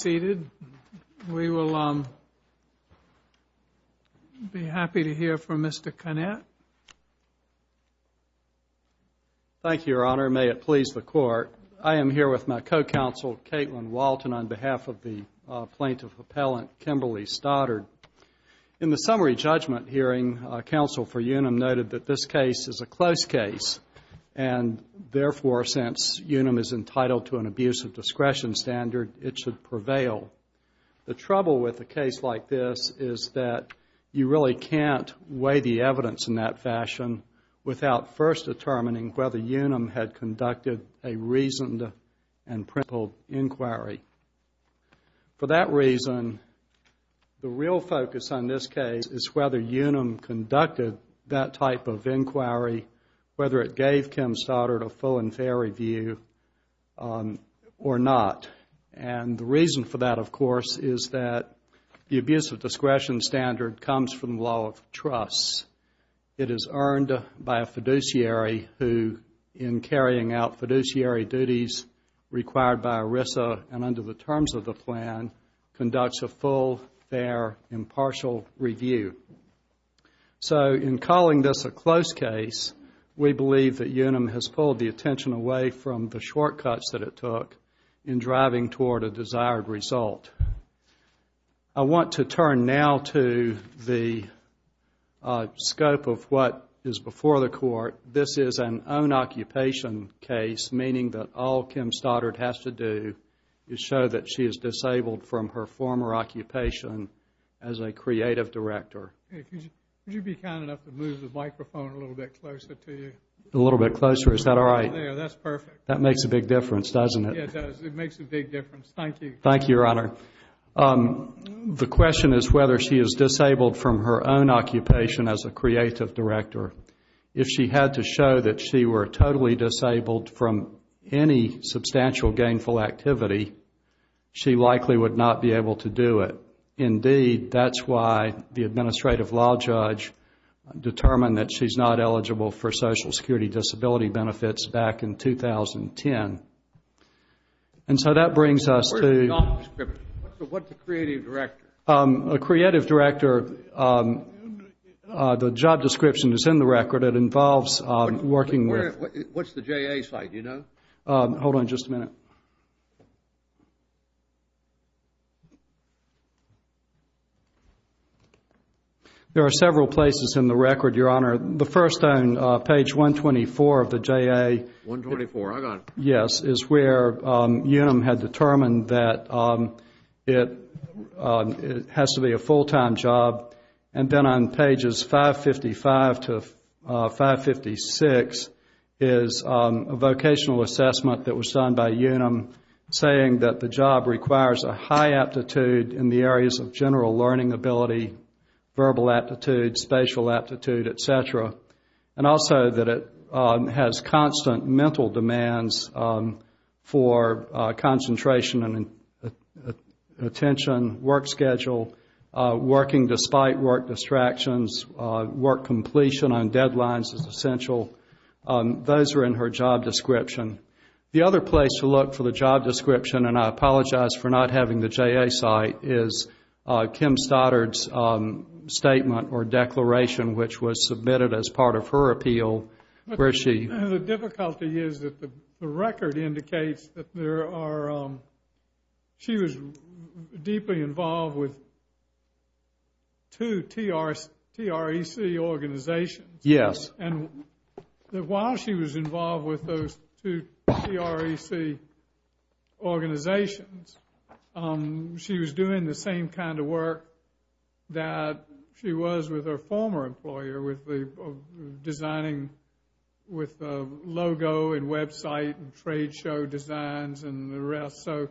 seated we will be happy to hear from Mr. Connett. Thank you your honor may it please the court I am here with my co-counsel Caitlin Walton on behalf of the plaintiff appellant Kimberly Stoddard. In the summary judgment hearing counsel for UNUM noted that this case is a close case and therefore since UNUM is entitled to an abuse of discretion standard it should prevail. The trouble with the case like this is that you really can't weigh the evidence in that fashion without first determining whether UNUM had conducted a reasoned and principled inquiry. For that reason the real focus on this case is whether UNUM conducted that type of inquiry whether it gave Kim Stoddard a full and or not and the reason for that of course is that the abuse of discretion standard comes from the law of trust. It is earned by a fiduciary who in carrying out fiduciary duties required by ERISA and under the terms of the plan conducts a full fair impartial review. So in calling this a close case we believe that UNUM has pulled the attention away from the shortcuts that it took in driving toward a desired result. I want to turn now to the scope of what is before the court. This is an own occupation case meaning that all Kim Stoddard has to do is show that she is disabled from her former occupation as a creative director. If she had to show that she were totally disabled from any substantial gainful activity she likely would not be able to do it. Indeed that's why the administrative law judge determined that she's not eligible for social security disability benefits back in 2010. And so that brings us to What's a creative director? A creative director, the job description is in the record. It involves working with What's the JA site, do you know? Hold on just a minute. There are several places in the record, Your Honor. The first own page is page 124 of the JA. 124, I got it. Yes, it's where UNUM had determined that it has to be a full-time job. And then on pages 555-556 is a vocational assessment that was done by UNUM saying that the job requires a high aptitude in the areas of general learning ability, verbal aptitude, spatial aptitude, et cetera. And also that it has constant mental demands for concentration and attention, work schedule, working despite work distractions, work completion on deadlines is essential. Those are in her job description. The other place to look for the job description, and I apologize for not having the JA site, is Kim Stoddard's statement or which was submitted as part of her appeal. The difficulty is that the record indicates that she was deeply involved with two TREC organizations. Yes. And while she was involved with those two TREC organizations, she was doing the same kind of work that she was with her former employer with the designing with the logo and website and trade show designs and the rest. So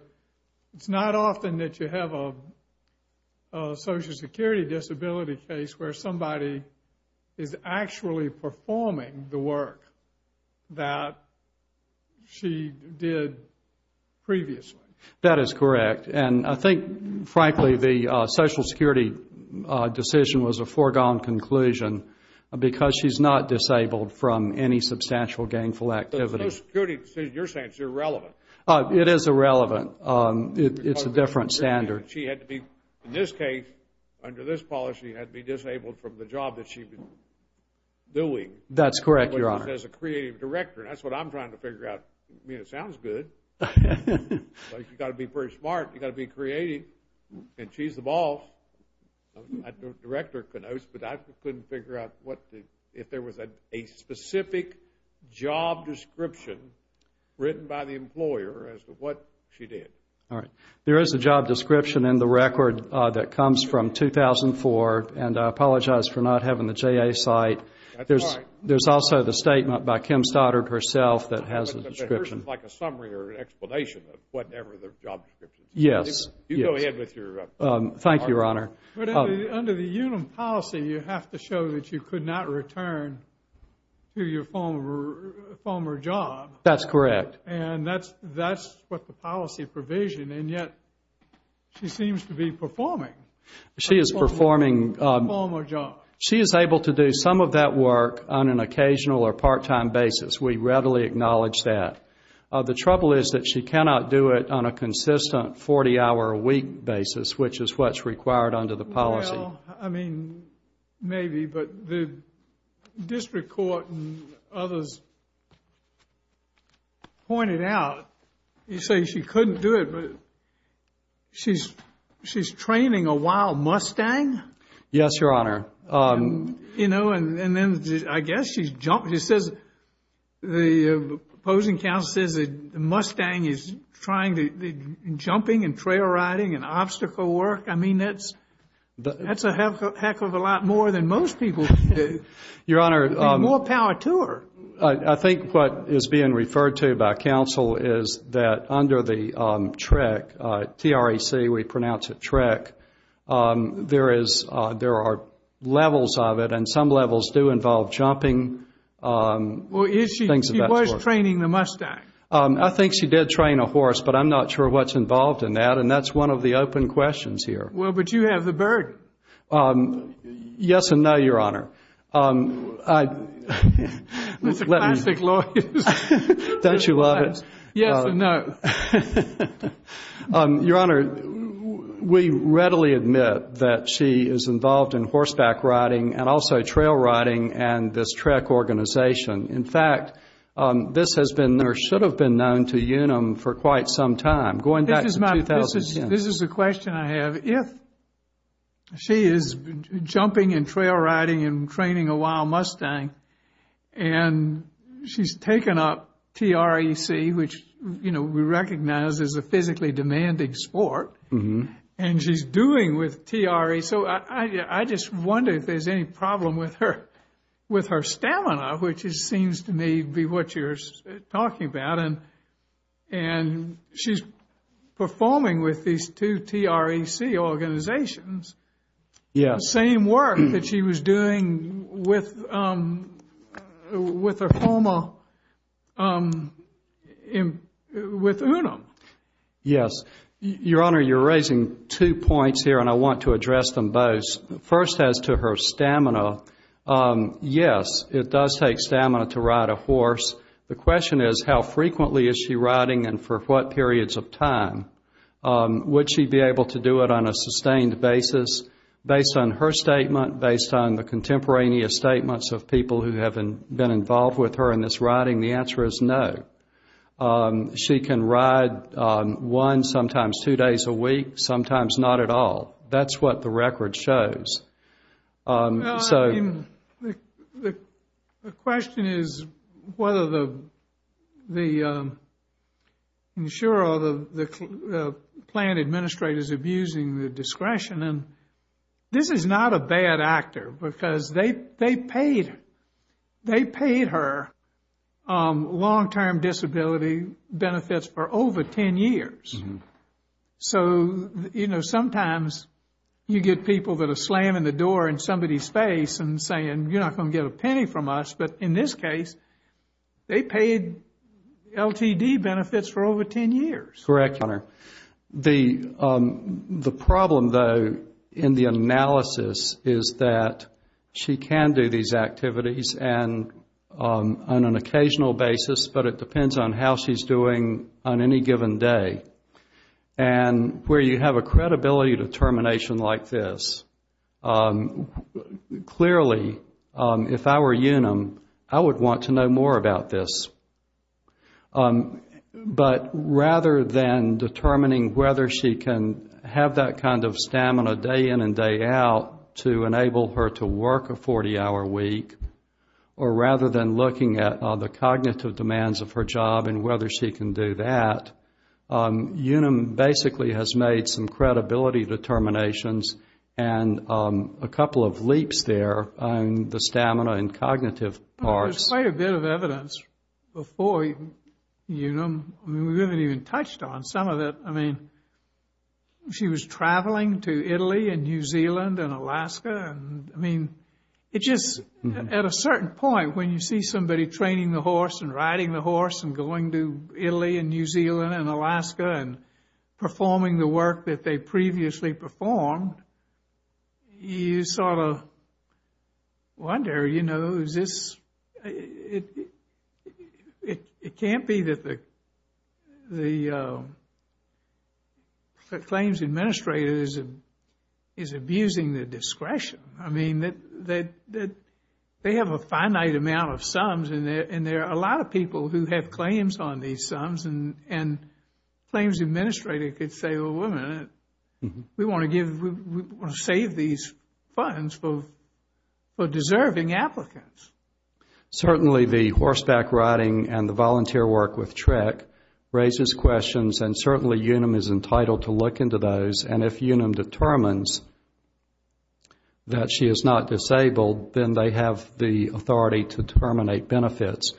it's not often that you have a Social Security disability case where somebody is actually performing the work that she did previously. That is correct. And I think that's a foregone conclusion because she's not disabled from any substantial gainful activity. Social Security, you're saying it's irrelevant. It is irrelevant. It's a different standard. She had to be, in this case, under this policy, had to be disabled from the job that she'd been doing. That's correct, Your Honor. As a creative director. That's what I'm trying to figure out. I mean, it sounds good, but you've got to be pretty smart. You've got to be involved. I don't know if the director knows, but I couldn't figure out if there was a specific job description written by the employer as to what she did. All right. There is a job description in the record that comes from 2004, and I apologize for not having the JA site. That's all right. There's also the statement by Kim Stoddard herself that has a description. It's like a summary or an explanation of whatever the job description is. Yes. You go ahead with your argument. Thank you, Your Honor. But under the UNUM policy, you have to show that you could not return to your former job. That's correct. And that's what the policy provision, and yet she seems to be performing. She is performing. Her former job. She is able to do some of that work on an occasional or part-time basis. We readily acknowledge that. The trouble is that she cannot do it on a consistent 40-hour-a-week basis, which is what's required under the policy. Well, I mean, maybe, but the district court and others pointed out, you say she couldn't do it, but she's training a wild Mustang? Yes, Your Honor. You know, and then I guess she's jumping. It says, the opposing counsel says the Mustang is trying to, jumping and trail riding and obstacle work. I mean, that's a heck of a lot more than most people. Your Honor. More power to her. I think what is being referred to by counsel is that under the TREC, T-R-E-C, we pronounce it TREC, there are levels of it, and some levels do involve jumping, things of that sort. Well, is she, she was training the Mustang? I think she did train a horse, but I'm not sure what's involved in that, and that's one of the open questions here. Well, but you have the bird. Yes and no, Your Honor. That's a classic lawyer. Don't you love it? Yes and no. Your Honor, we readily admit that she was training the Mustang. She is involved in horseback riding and also trail riding and this TREC organization. In fact, this has been, or should have been known to Unum for quite some time, going back to 2010. This is a question I have. If she is jumping and trail riding and training a wild Mustang, and she's taken up TREC, which, you know, we recognize is a physically demanding sport, and she's doing with TREC, so I just wonder if there's any problem with her, with her stamina, which seems to me to be what you're talking about, and she's performing with these two TREC organizations. Yes. The same work that she was doing with her homo, with Unum. Yes. Your Honor, you're raising two points here, and I want to address them both. First, as to her stamina, yes, it does take stamina to ride a horse. The question is, how frequently is she riding and for what periods of time? Would she be able to do it on a sustained basis? Based on her statement, based on the contemporaneous statements of people who have been involved with her in this riding, the answer is no. She can ride one, sometimes two days a week, sometimes not at all. That's what the record shows. The question is whether the insurer or the plant administrator is abusing the discretion, and this is not a bad actor, because they paid her long-term disability benefits for over 10 years. So, you know, sometimes you get people that are slamming the door in somebody's face and saying, you're not going to get a penny from us, but in this case, they paid LTD benefits for over 10 years. Correct, Your Honor. The problem, though, in the analysis is that she can do these activities on an occasional basis, but it depends on how she's doing on any given day. And where you have a credibility determination like this, clearly, if I were Unum, I would want to know more about this. But rather than determining whether she can have that kind of stamina day in and day out to enable her to work a 40-hour week, or rather than looking at the cognitive demands of her job and whether she can do that, Unum basically has made some credibility determinations and a couple of leaps there on the stamina and cognitive parts. There's quite a bit of evidence before Unum. We haven't even touched on some of it. I mean, she was traveling to Italy and New Zealand and Alaska. I mean, it's just at a certain point when you see somebody training the horse and riding the horse and going to Italy and New Zealand and Alaska and performing the work that they previously performed, you sort of wonder, you know, is this, it can't be that the claims administrator is abusing the discretion. I mean, they have a finite amount of sums and there are a lot of people who have claims on these sums and claims administrator could say, well, wait a minute, we want to save these funds for deserving applicants. Certainly the horseback riding and the volunteer work with TREC raises questions and certainly Unum is entitled to look into those and if Unum determines that she is not disabled, then they have the authority to terminate benefits.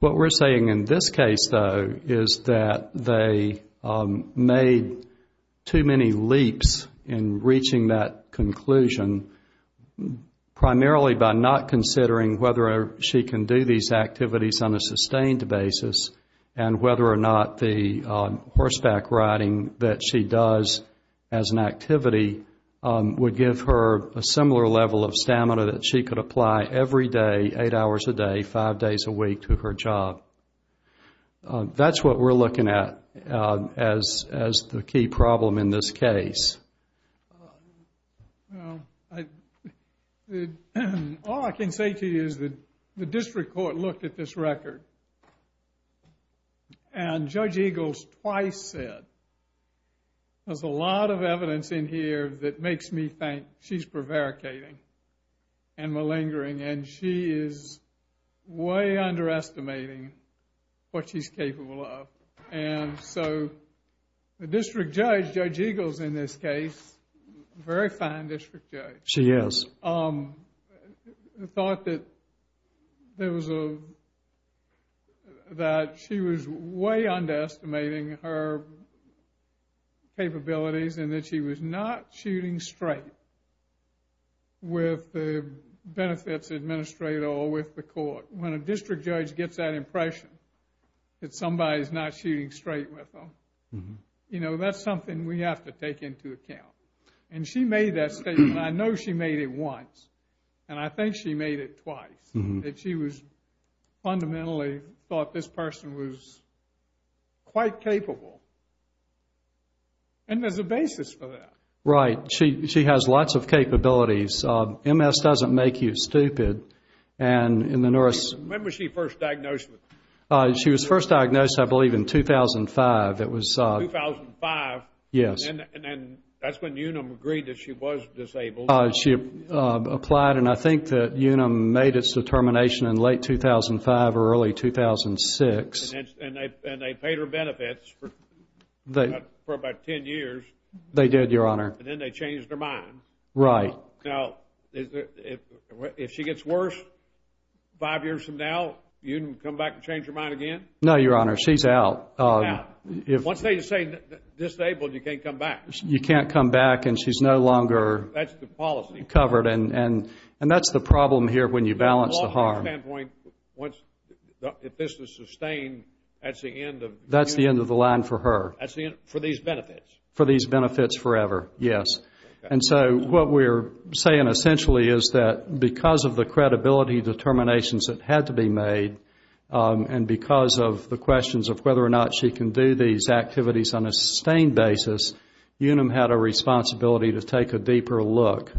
What we're saying in this case, though, is that they made too many leaps in reaching that conclusion, primarily by not considering whether she can do these activities on a sustained basis and whether or not the horseback riding that she does as an activity would give her a similar level of stamina that she could apply every day, eight hours a day, five days a week to her job. That's what we're looking at as the key problem in this case. All I can say to you is that the district court looked at this record and Judge Eagles twice said that the district court has a lot of evidence in here that makes me think she's prevaricating and malingering and she is way underestimating what she's capable of. And so the district judge, Judge Eagles in this case, very fine district judge, thought that she was way underestimating her ability to do these activities. And that she was not shooting straight with the benefits administrator or with the court. When a district judge gets that impression that somebody's not shooting straight with them, you know, that's something we have to take into account. And she made that statement. I know she made it once and I think she made it twice. That she was fundamentally thought this person was quite capable. And there's a basis for that. Right. She has lots of capabilities. MS doesn't make you stupid. When was she first diagnosed? She was first diagnosed, I believe, in 2005. 2005? Yes. And that's when Unum agreed that she was disabled. She applied and I think that Unum made its determination in late 2005 or early 2006. And they paid her benefits for about 10 years. They did, Your Honor. And then they changed her mind. Right. Now, if she gets worse five years from now, Unum come back and change her mind again? No, Your Honor. She's out. Once they say disabled, you can't come back. You can't come back and she's no longer covered. And that's the problem here when you balance the harm. From my standpoint, if this is sustained, that's the end of... That's the end of the line for her. For these benefits. Yes. And so what we're saying essentially is that because of the credibility determinations that had to be made and because of the questions of whether or not she can do these activities on a sustained basis, Unum had a responsibility to take a deeper look.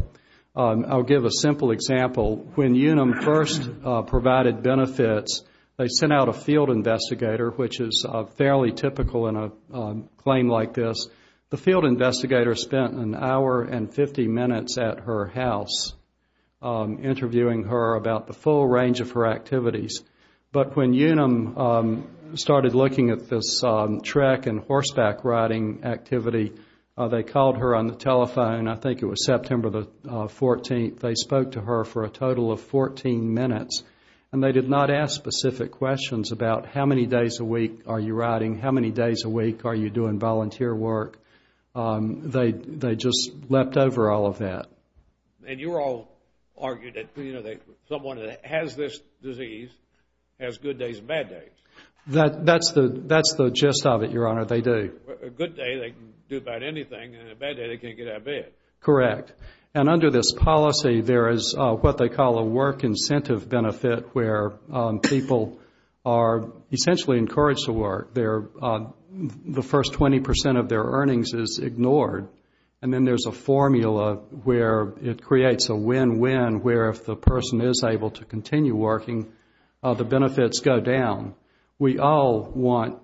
I'll give a simple example. When Unum first provided benefits, they sent out a field investigator, which is fairly typical in a claim like this. The field investigator spent an hour and 50 minutes at her house interviewing her about the full range of her activities. But when Unum started looking at this trek and horseback riding activity, they called her on the telephone. I think it was September the 14th. They spoke to her for a total of 14 minutes. And they did not ask specific questions about how many days a week are you riding, how many days a week are you doing volunteer work. They just leapt over all of that. And you all argued that someone that has this disease has good days and bad days. That's the gist of it, Your Honor. They do. A good day they can do about anything and a bad day they can't get out of bed. Correct. And under this policy there is what they call a work incentive benefit where people are essentially encouraged to work. The first 20 percent of their earnings is ignored. And then there's a formula where it creates a win-win where if the person is able to continue working, the benefits go down. We all want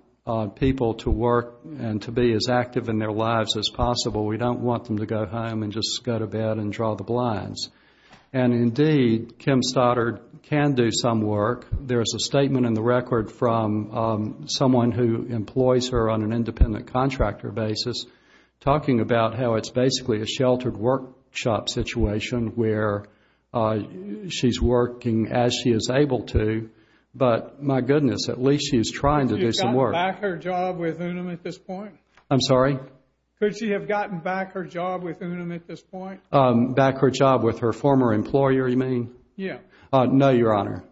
people to work and to be as active in their lives as possible. We don't want them to go home and just go to bed and draw the blinds. And indeed, Kim Stoddard can do some work. There is a statement in the record from someone who employs her on an independent contractor basis talking about how it's basically a sheltered workshop situation where she's working as she is able to. But my goodness, at least she's trying to do some work. Could she have gotten back her job with Unum at this point? Back her job with her former employer, you mean? No, Your Honor.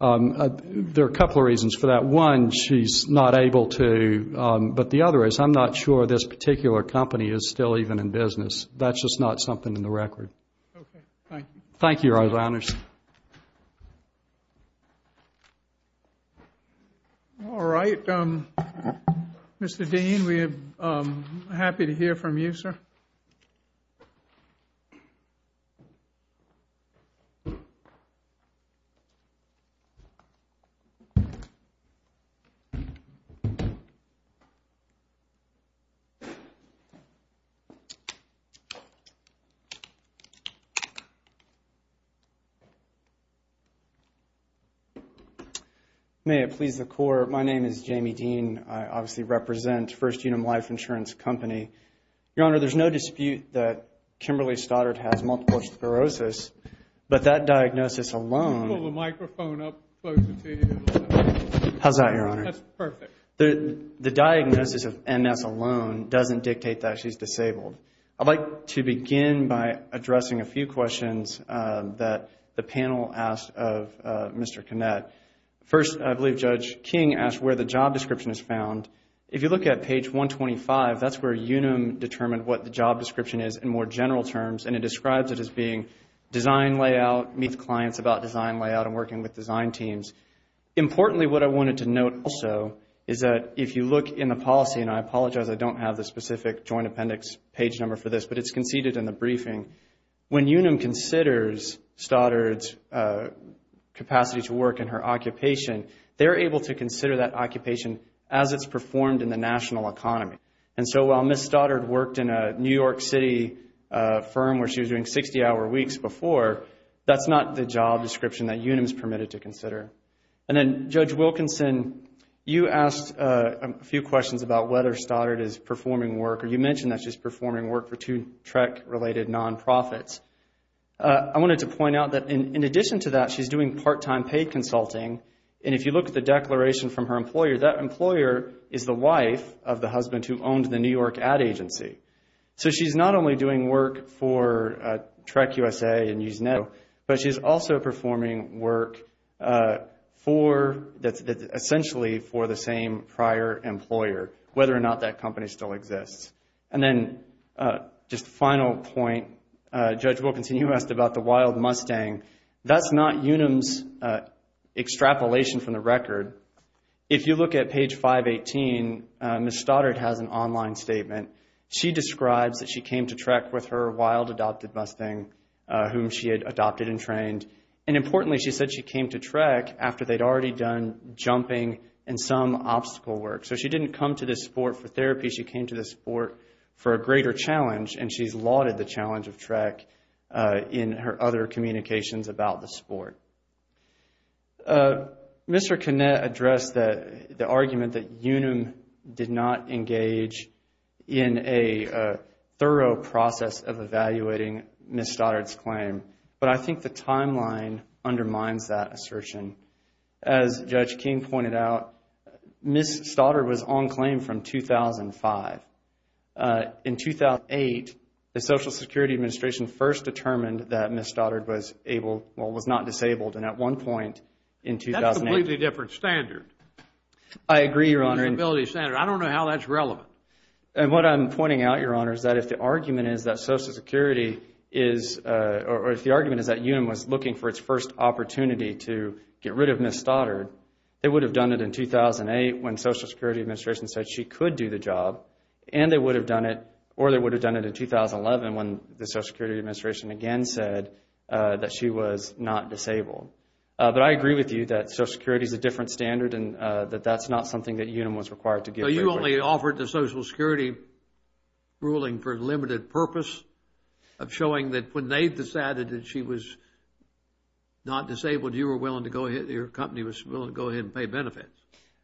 There are a couple of reasons for that. One, she's not able to. But the other is I'm not sure this particular company is still even in business. That's just not something in the record. Okay. Thank you. All right. Mr. Dean, we are happy to hear from you, sir. May it please the Court. My name is Jamie Dean. I obviously represent First Unum Life Insurance Company. Your Honor, there's no dispute that Kimberly Stoddard has multiple sclerosis. But that diagnosis alone... The diagnosis of MS alone doesn't dictate that she's disabled. I'd like to begin by addressing a few questions that the panel asked of Mr. Kinnett. First, I believe Judge King asked where the job description is found. If you look at page 125, that's where Unum determined what the job description is in more general terms, and it describes it as being design layout, meet clients about design layout and working with design teams. Importantly, what I wanted to note also is that if you look in the policy, and I apologize I don't have the specific Joint Appendix page number for this, but it's conceded in the briefing, when Unum considers Stoddard's capacity to work in her occupation, they're able to consider that occupation as it's performed in the national economy. And so while Ms. Stoddard worked in a New York City firm where she was doing 60-hour weeks before, that's not the job description that Unum is permitted to consider. And then Judge Wilkinson, you asked a few questions about whether Stoddard is performing work, or you mentioned that she's performing work for two TREC-related non-profits. I wanted to point out that in addition to that, she's doing part-time pay consulting, and if you look at the declaration from her employer, that employer is the wife of the husband who owned the New York ad agency. So she's not only doing work for TREC USA and Usenet, but she's also performing work essentially for the same prior employer, whether or not that company still exists. And then just a final point, Judge Wilkinson, you asked about the Wild Mustang. That's not Unum's extrapolation from the record. If you look at page 518, Ms. Stoddard has an online statement. She describes that she came to TREC with her Wild Adopted Mustang, whom she had adopted and trained. And importantly, she said she came to TREC after they'd already done jumping and some obstacle work. So she didn't come to this sport for therapy, she came to this sport for a greater challenge, and she's lauded the challenge of TREC in her other communications about the sport. Mr. Kinnett addressed the argument that Unum did not engage either in the sport in a thorough process of evaluating Ms. Stoddard's claim. But I think the timeline undermines that assertion. As Judge Kinn pointed out, Ms. Stoddard was on claim from 2005. In 2008, the Social Security Administration first determined that Ms. Stoddard was able, well, was not disabled, and at one point in 2008... I'm pointing out, Your Honor, that if the argument is that Social Security is, or if the argument is that Unum was looking for its first opportunity to get rid of Ms. Stoddard, they would have done it in 2008 when the Social Security Administration said she could do the job, and they would have done it, or they would have done it in 2011 when the Social Security Administration again said that she was not disabled. But I agree with you that Social Security is a different standard and that that's not something that Unum was required to give. So you only offered the Social Security ruling for a limited purpose of showing that when they decided that she was not disabled, you were willing to go ahead, your company was willing to go ahead and pay benefits.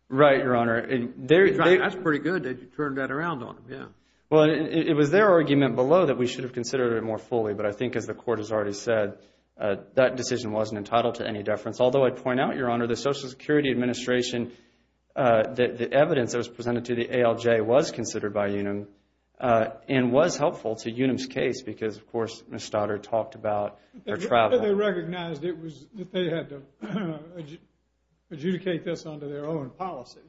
Right, Your Honor. That's pretty good that you turned that around on them, yeah. Well, it was their argument below that we should have considered it more fully, but I think as the Court has already said, that decision wasn't entitled to any deference. Although I'd point out, Your Honor, the Social Security Administration, the evidence that was presented to the ALJ was considered by Unum and was helpful to Unum's case because, of course, Ms. Stoddard talked about her travel. They recognized that they had to adjudicate this under their own policy.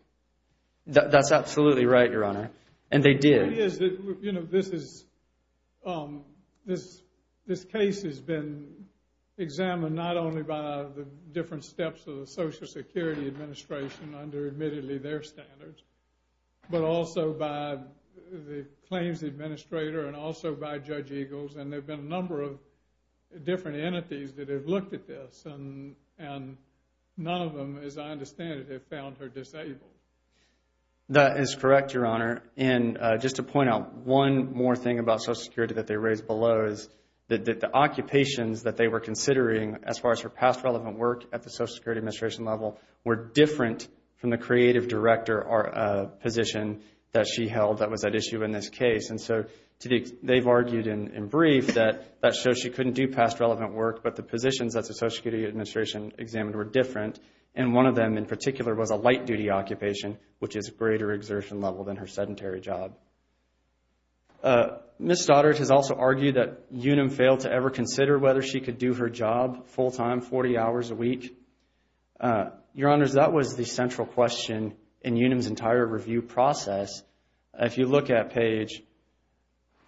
That's absolutely right, Your Honor, and they did. This case has been examined not only by the different steps of the Social Security Administration under, admittedly, their standards, but also by the claims administrator and also by Judge Eagles, and there have been a number of different entities that have looked at this, and none of them, as I understand it, have found her disabled. That is correct, Your Honor, and just to point out one more thing about Social Security that they raised below is that the occupations that they were considering as far as her past relevant work at the Social Security Administration level were different from the creative director position that she held that was at issue in this case. And so they've argued in brief that that shows she couldn't do past relevant work, but the positions that the Social Security Administration examined were different, and one of them in particular was a light-duty occupation, which is greater exertion level than her sedentary job. Ms. Stoddard has also argued that Unum failed to ever consider whether she could do her job full-time 40 hours a week. Your Honors, that was the central question in Unum's entire review process. If you look at page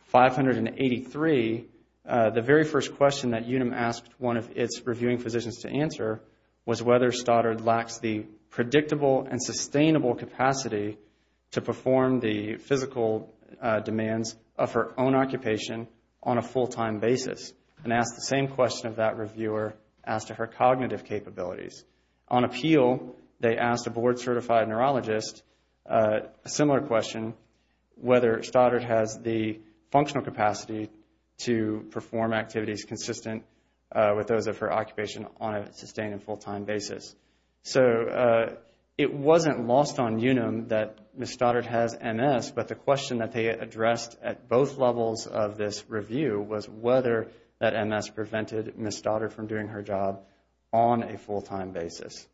583, the very first question that Unum asked one of its reviewing physicians to answer was whether Stoddard lacks the predictable and sustainable capacity to perform the physical demands of her own occupation on a full-time basis, and asked the same question of that reviewer as to her cognitive capabilities. On appeal, they asked a board-certified neurologist a similar question, whether Stoddard has the functional capacity to perform activities consistent with those of her occupation on a sustained and full-time basis. So it wasn't lost on Unum that Ms. Stoddard has MS, but the question that they addressed at both levels of this review was whether that MS prevented Ms. Stoddard from doing her job on a full-time basis.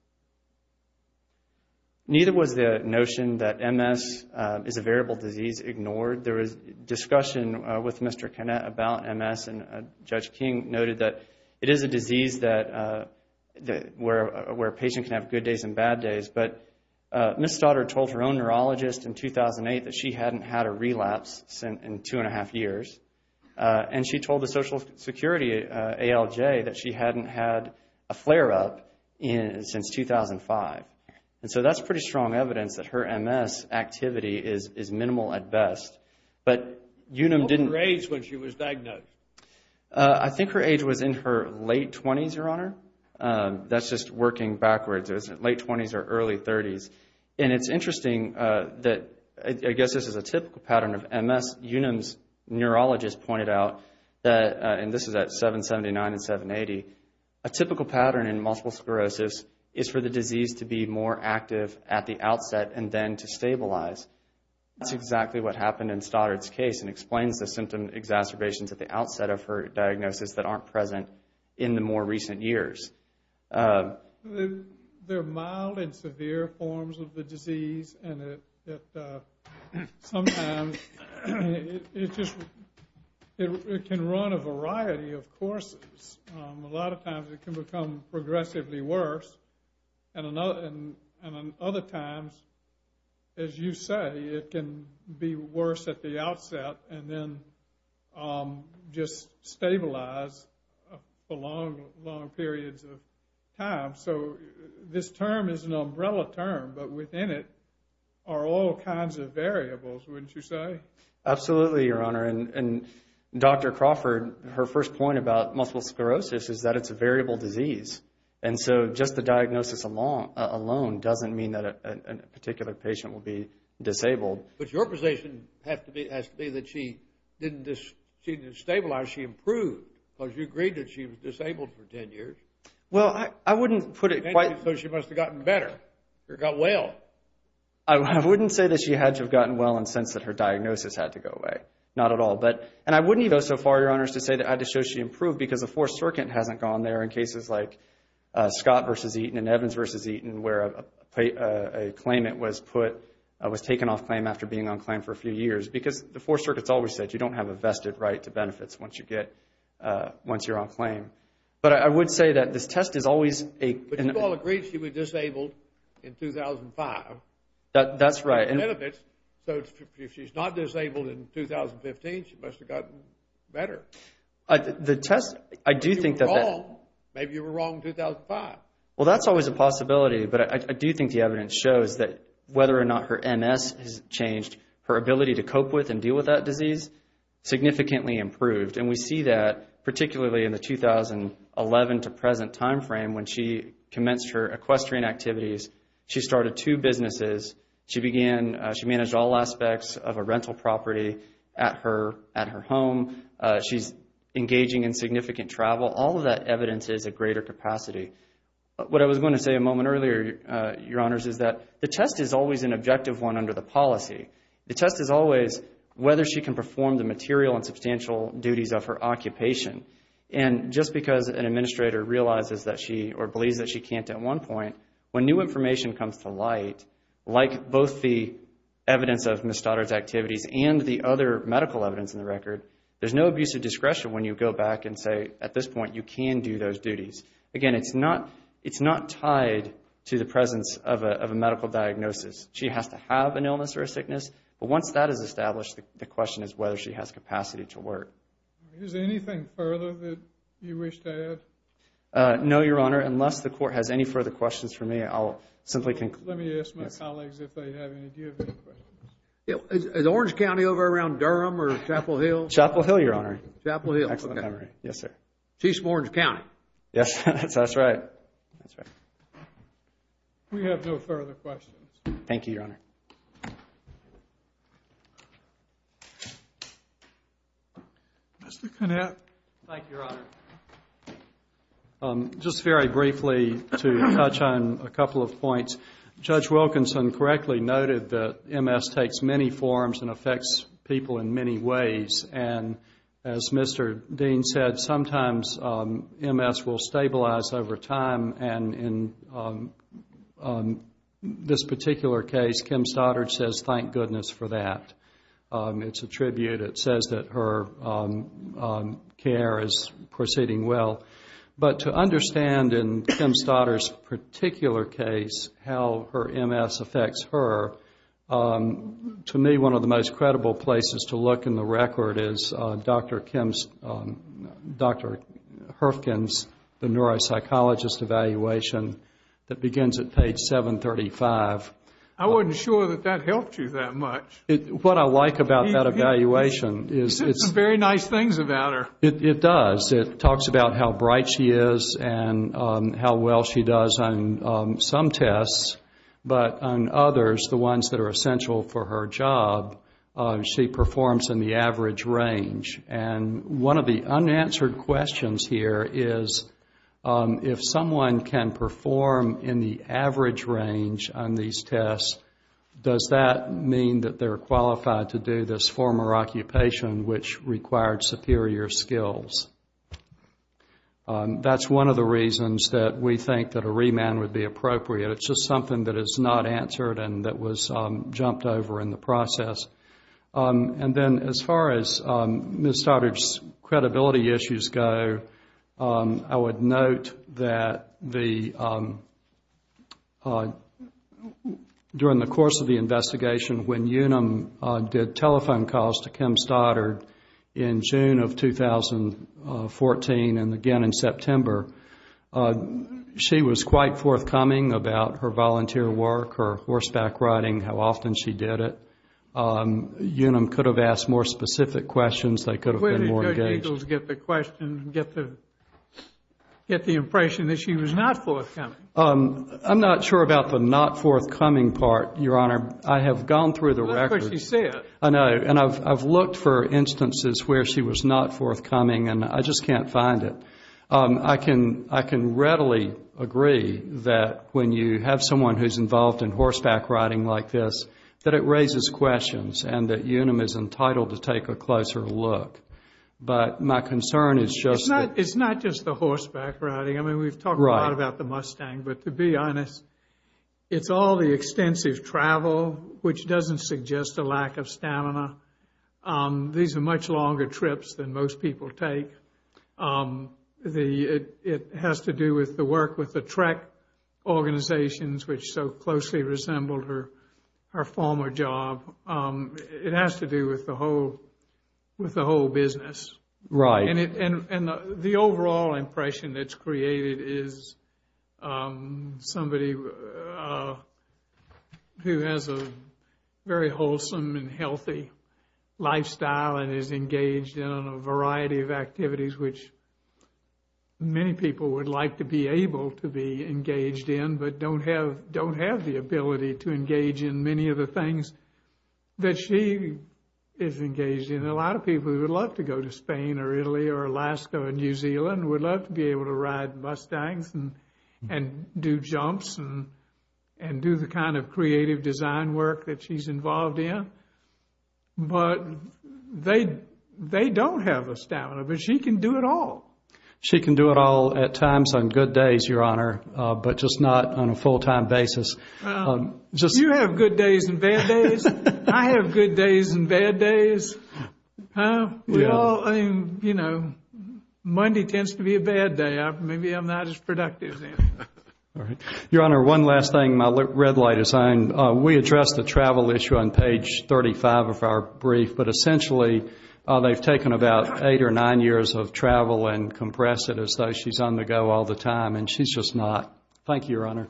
Neither was the notion that MS is a variable disease ignored. There was discussion with Mr. Canette about MS, and Judge King noted that it is a disease where a patient can have good days and bad days, but Ms. Stoddard told her own neurologist in 2008 that she hadn't had a relapse in two and a half years, and she told the Social Security ALJ that she hadn't had a flare-up since 2005. And so that's pretty strong evidence that her MS activity is minimal at best. What was her age when she was diagnosed? I think her age was in her late 20s, Your Honor. That's just working backwards. It was in her late 20s or early 30s. And it's interesting that I guess this is a typical pattern of MS. Unum's neurologist pointed out that, and this is at 779 and 780, a typical pattern in multiple sclerosis is for the disease to be more active at the outset and then to stabilize. That's exactly what happened in Stoddard's case and explains the symptom exacerbations at the outset of her diagnosis that aren't present in the more recent years. There are mild and severe forms of the disease, and sometimes it can run a variety of courses. A lot of times it can become progressively worse, and other times, as you say, it can be worse at the outset and then just stabilize for long, long periods of time. So this term is an umbrella term, but within it are all kinds of variables, wouldn't you say? Absolutely, Your Honor. And Dr. Crawford, her first point about multiple sclerosis is that it's a variable disease. And so just the diagnosis alone doesn't mean that a particular patient will be disabled. But your position has to be that she didn't stabilize. She improved because you agreed that she was disabled for 10 years. Well, I wouldn't put it quite— So she must have gotten better or got well. I wouldn't say that she had to have gotten well in the sense that her diagnosis had to go away. Not at all. And I wouldn't go so far, Your Honors, to say that I had to show she improved because the Fourth Circuit hasn't gone there in cases like Scott v. Eaton and Evans v. Eaton where a claimant was taken off claim after being on claim for a few years because the Fourth Circuit's always said you don't have a vested right to benefits once you're on claim. But I would say that this test is always— But you all agreed she was disabled in 2005. That's right. So if she's not disabled in 2015, she must have gotten better. The test— Maybe you were wrong. Maybe you were wrong in 2005. Well, that's always a possibility. But I do think the evidence shows that whether or not her MS has changed, her ability to cope with and deal with that disease significantly improved. And we see that particularly in the 2011 to present timeframe when she commenced her equestrian activities. She started two businesses. She began—she managed all aspects of a rental property at her home. She's engaging in significant travel. All of that evidence is at greater capacity. What I was going to say a moment earlier, Your Honors, is that the test is always an objective one under the policy. The test is always whether she can perform the material and substantial duties of her occupation. And just because an administrator realizes that she— or believes that she can't at one point, when new information comes to light, like both the evidence of Ms. Stoddard's activities and the other medical evidence in the record, there's no abuse of discretion when you go back and say, at this point, you can do those duties. Again, it's not tied to the presence of a medical diagnosis. She has to have an illness or a sickness. But once that is established, the question is whether she has capacity to work. Is there anything further that you wish to add? No, Your Honor. Unless the Court has any further questions for me, I'll simply conclude— Let me ask my colleagues if they have any. Do you have any questions? Is Orange County over around Durham or Chapel Hill? Chapel Hill, Your Honor. Chapel Hill. Excellent memory. Yes, sir. Chiefs of Orange County. Yes, that's right. We have no further questions. Thank you, Your Honor. Mr. Connett. Thank you, Your Honor. Just very briefly to touch on a couple of points. Judge Wilkinson correctly noted that MS takes many forms and affects people in many ways. As Mr. Dean said, sometimes MS will stabilize over time. In this particular case, Kim Stoddard says thank goodness for that. It's a tribute. It says that her care is proceeding well. But to understand in Kim Stoddard's particular case how her MS affects her, to me one of the most credible places to look in the record is Dr. Herfgen's neuropsychologist evaluation that begins at page 735. I wasn't sure that that helped you that much. What I like about that evaluation is— It says some very nice things about her. It does. It talks about how bright she is and how well she does on some tests, but on others, the ones that are essential for her job, she performs in the average range. One of the unanswered questions here is, if someone can perform in the average range on these tests, does that mean that they're qualified to do this former occupation, which required superior skills? That's one of the reasons that we think that a remand would be appropriate. It's just something that is not answered and that was jumped over in the process. And then as far as Ms. Stoddard's credibility issues go, I would note that during the course of the investigation, when UNUM did telephone calls to Kim Stoddard in June of 2014 and again in September, she was quite forthcoming about her volunteer work, her horseback riding, how often she did it. UNUM could have asked more specific questions. They could have been more engaged. Where did Judge Eagles get the impression that she was not forthcoming? I'm not sure about the not forthcoming part, Your Honor. I have gone through the records. That's what she said. I know, and I've looked for instances where she was not forthcoming, and I just can't find it. I can readily agree that when you have someone who's involved in horseback riding like this, that it raises questions and that UNUM is entitled to take a closer look. But my concern is just that... It's not just the horseback riding. I mean, we've talked a lot about the Mustang, but to be honest, it's all the extensive travel, which doesn't suggest a lack of stamina. These are much longer trips than most people take. It has to do with the work with the track organizations, which so closely resemble her former job. It has to do with the whole business. Right. The overall impression that's created is somebody who has a very wholesome and healthy lifestyle and is engaged in a variety of activities which many people would like to be able to be engaged in but don't have the ability to engage in many of the things that she is engaged in. And a lot of people who would love to go to Spain or Italy or Alaska or New Zealand would love to be able to ride Mustangs and do jumps and do the kind of creative design work that she's involved in. But they don't have the stamina, but she can do it all. She can do it all at times on good days, Your Honor, but just not on a full-time basis. You have good days and bad days. I have good days and bad days. We all, you know, Monday tends to be a bad day. Maybe I'm not as productive. Your Honor, one last thing. My red light is on. We addressed the travel issue on page 35 of our brief, but essentially they've taken about eight or nine years of travel and compressed it as though she's on the go all the time, and she's just not. Thank you, Your Honor.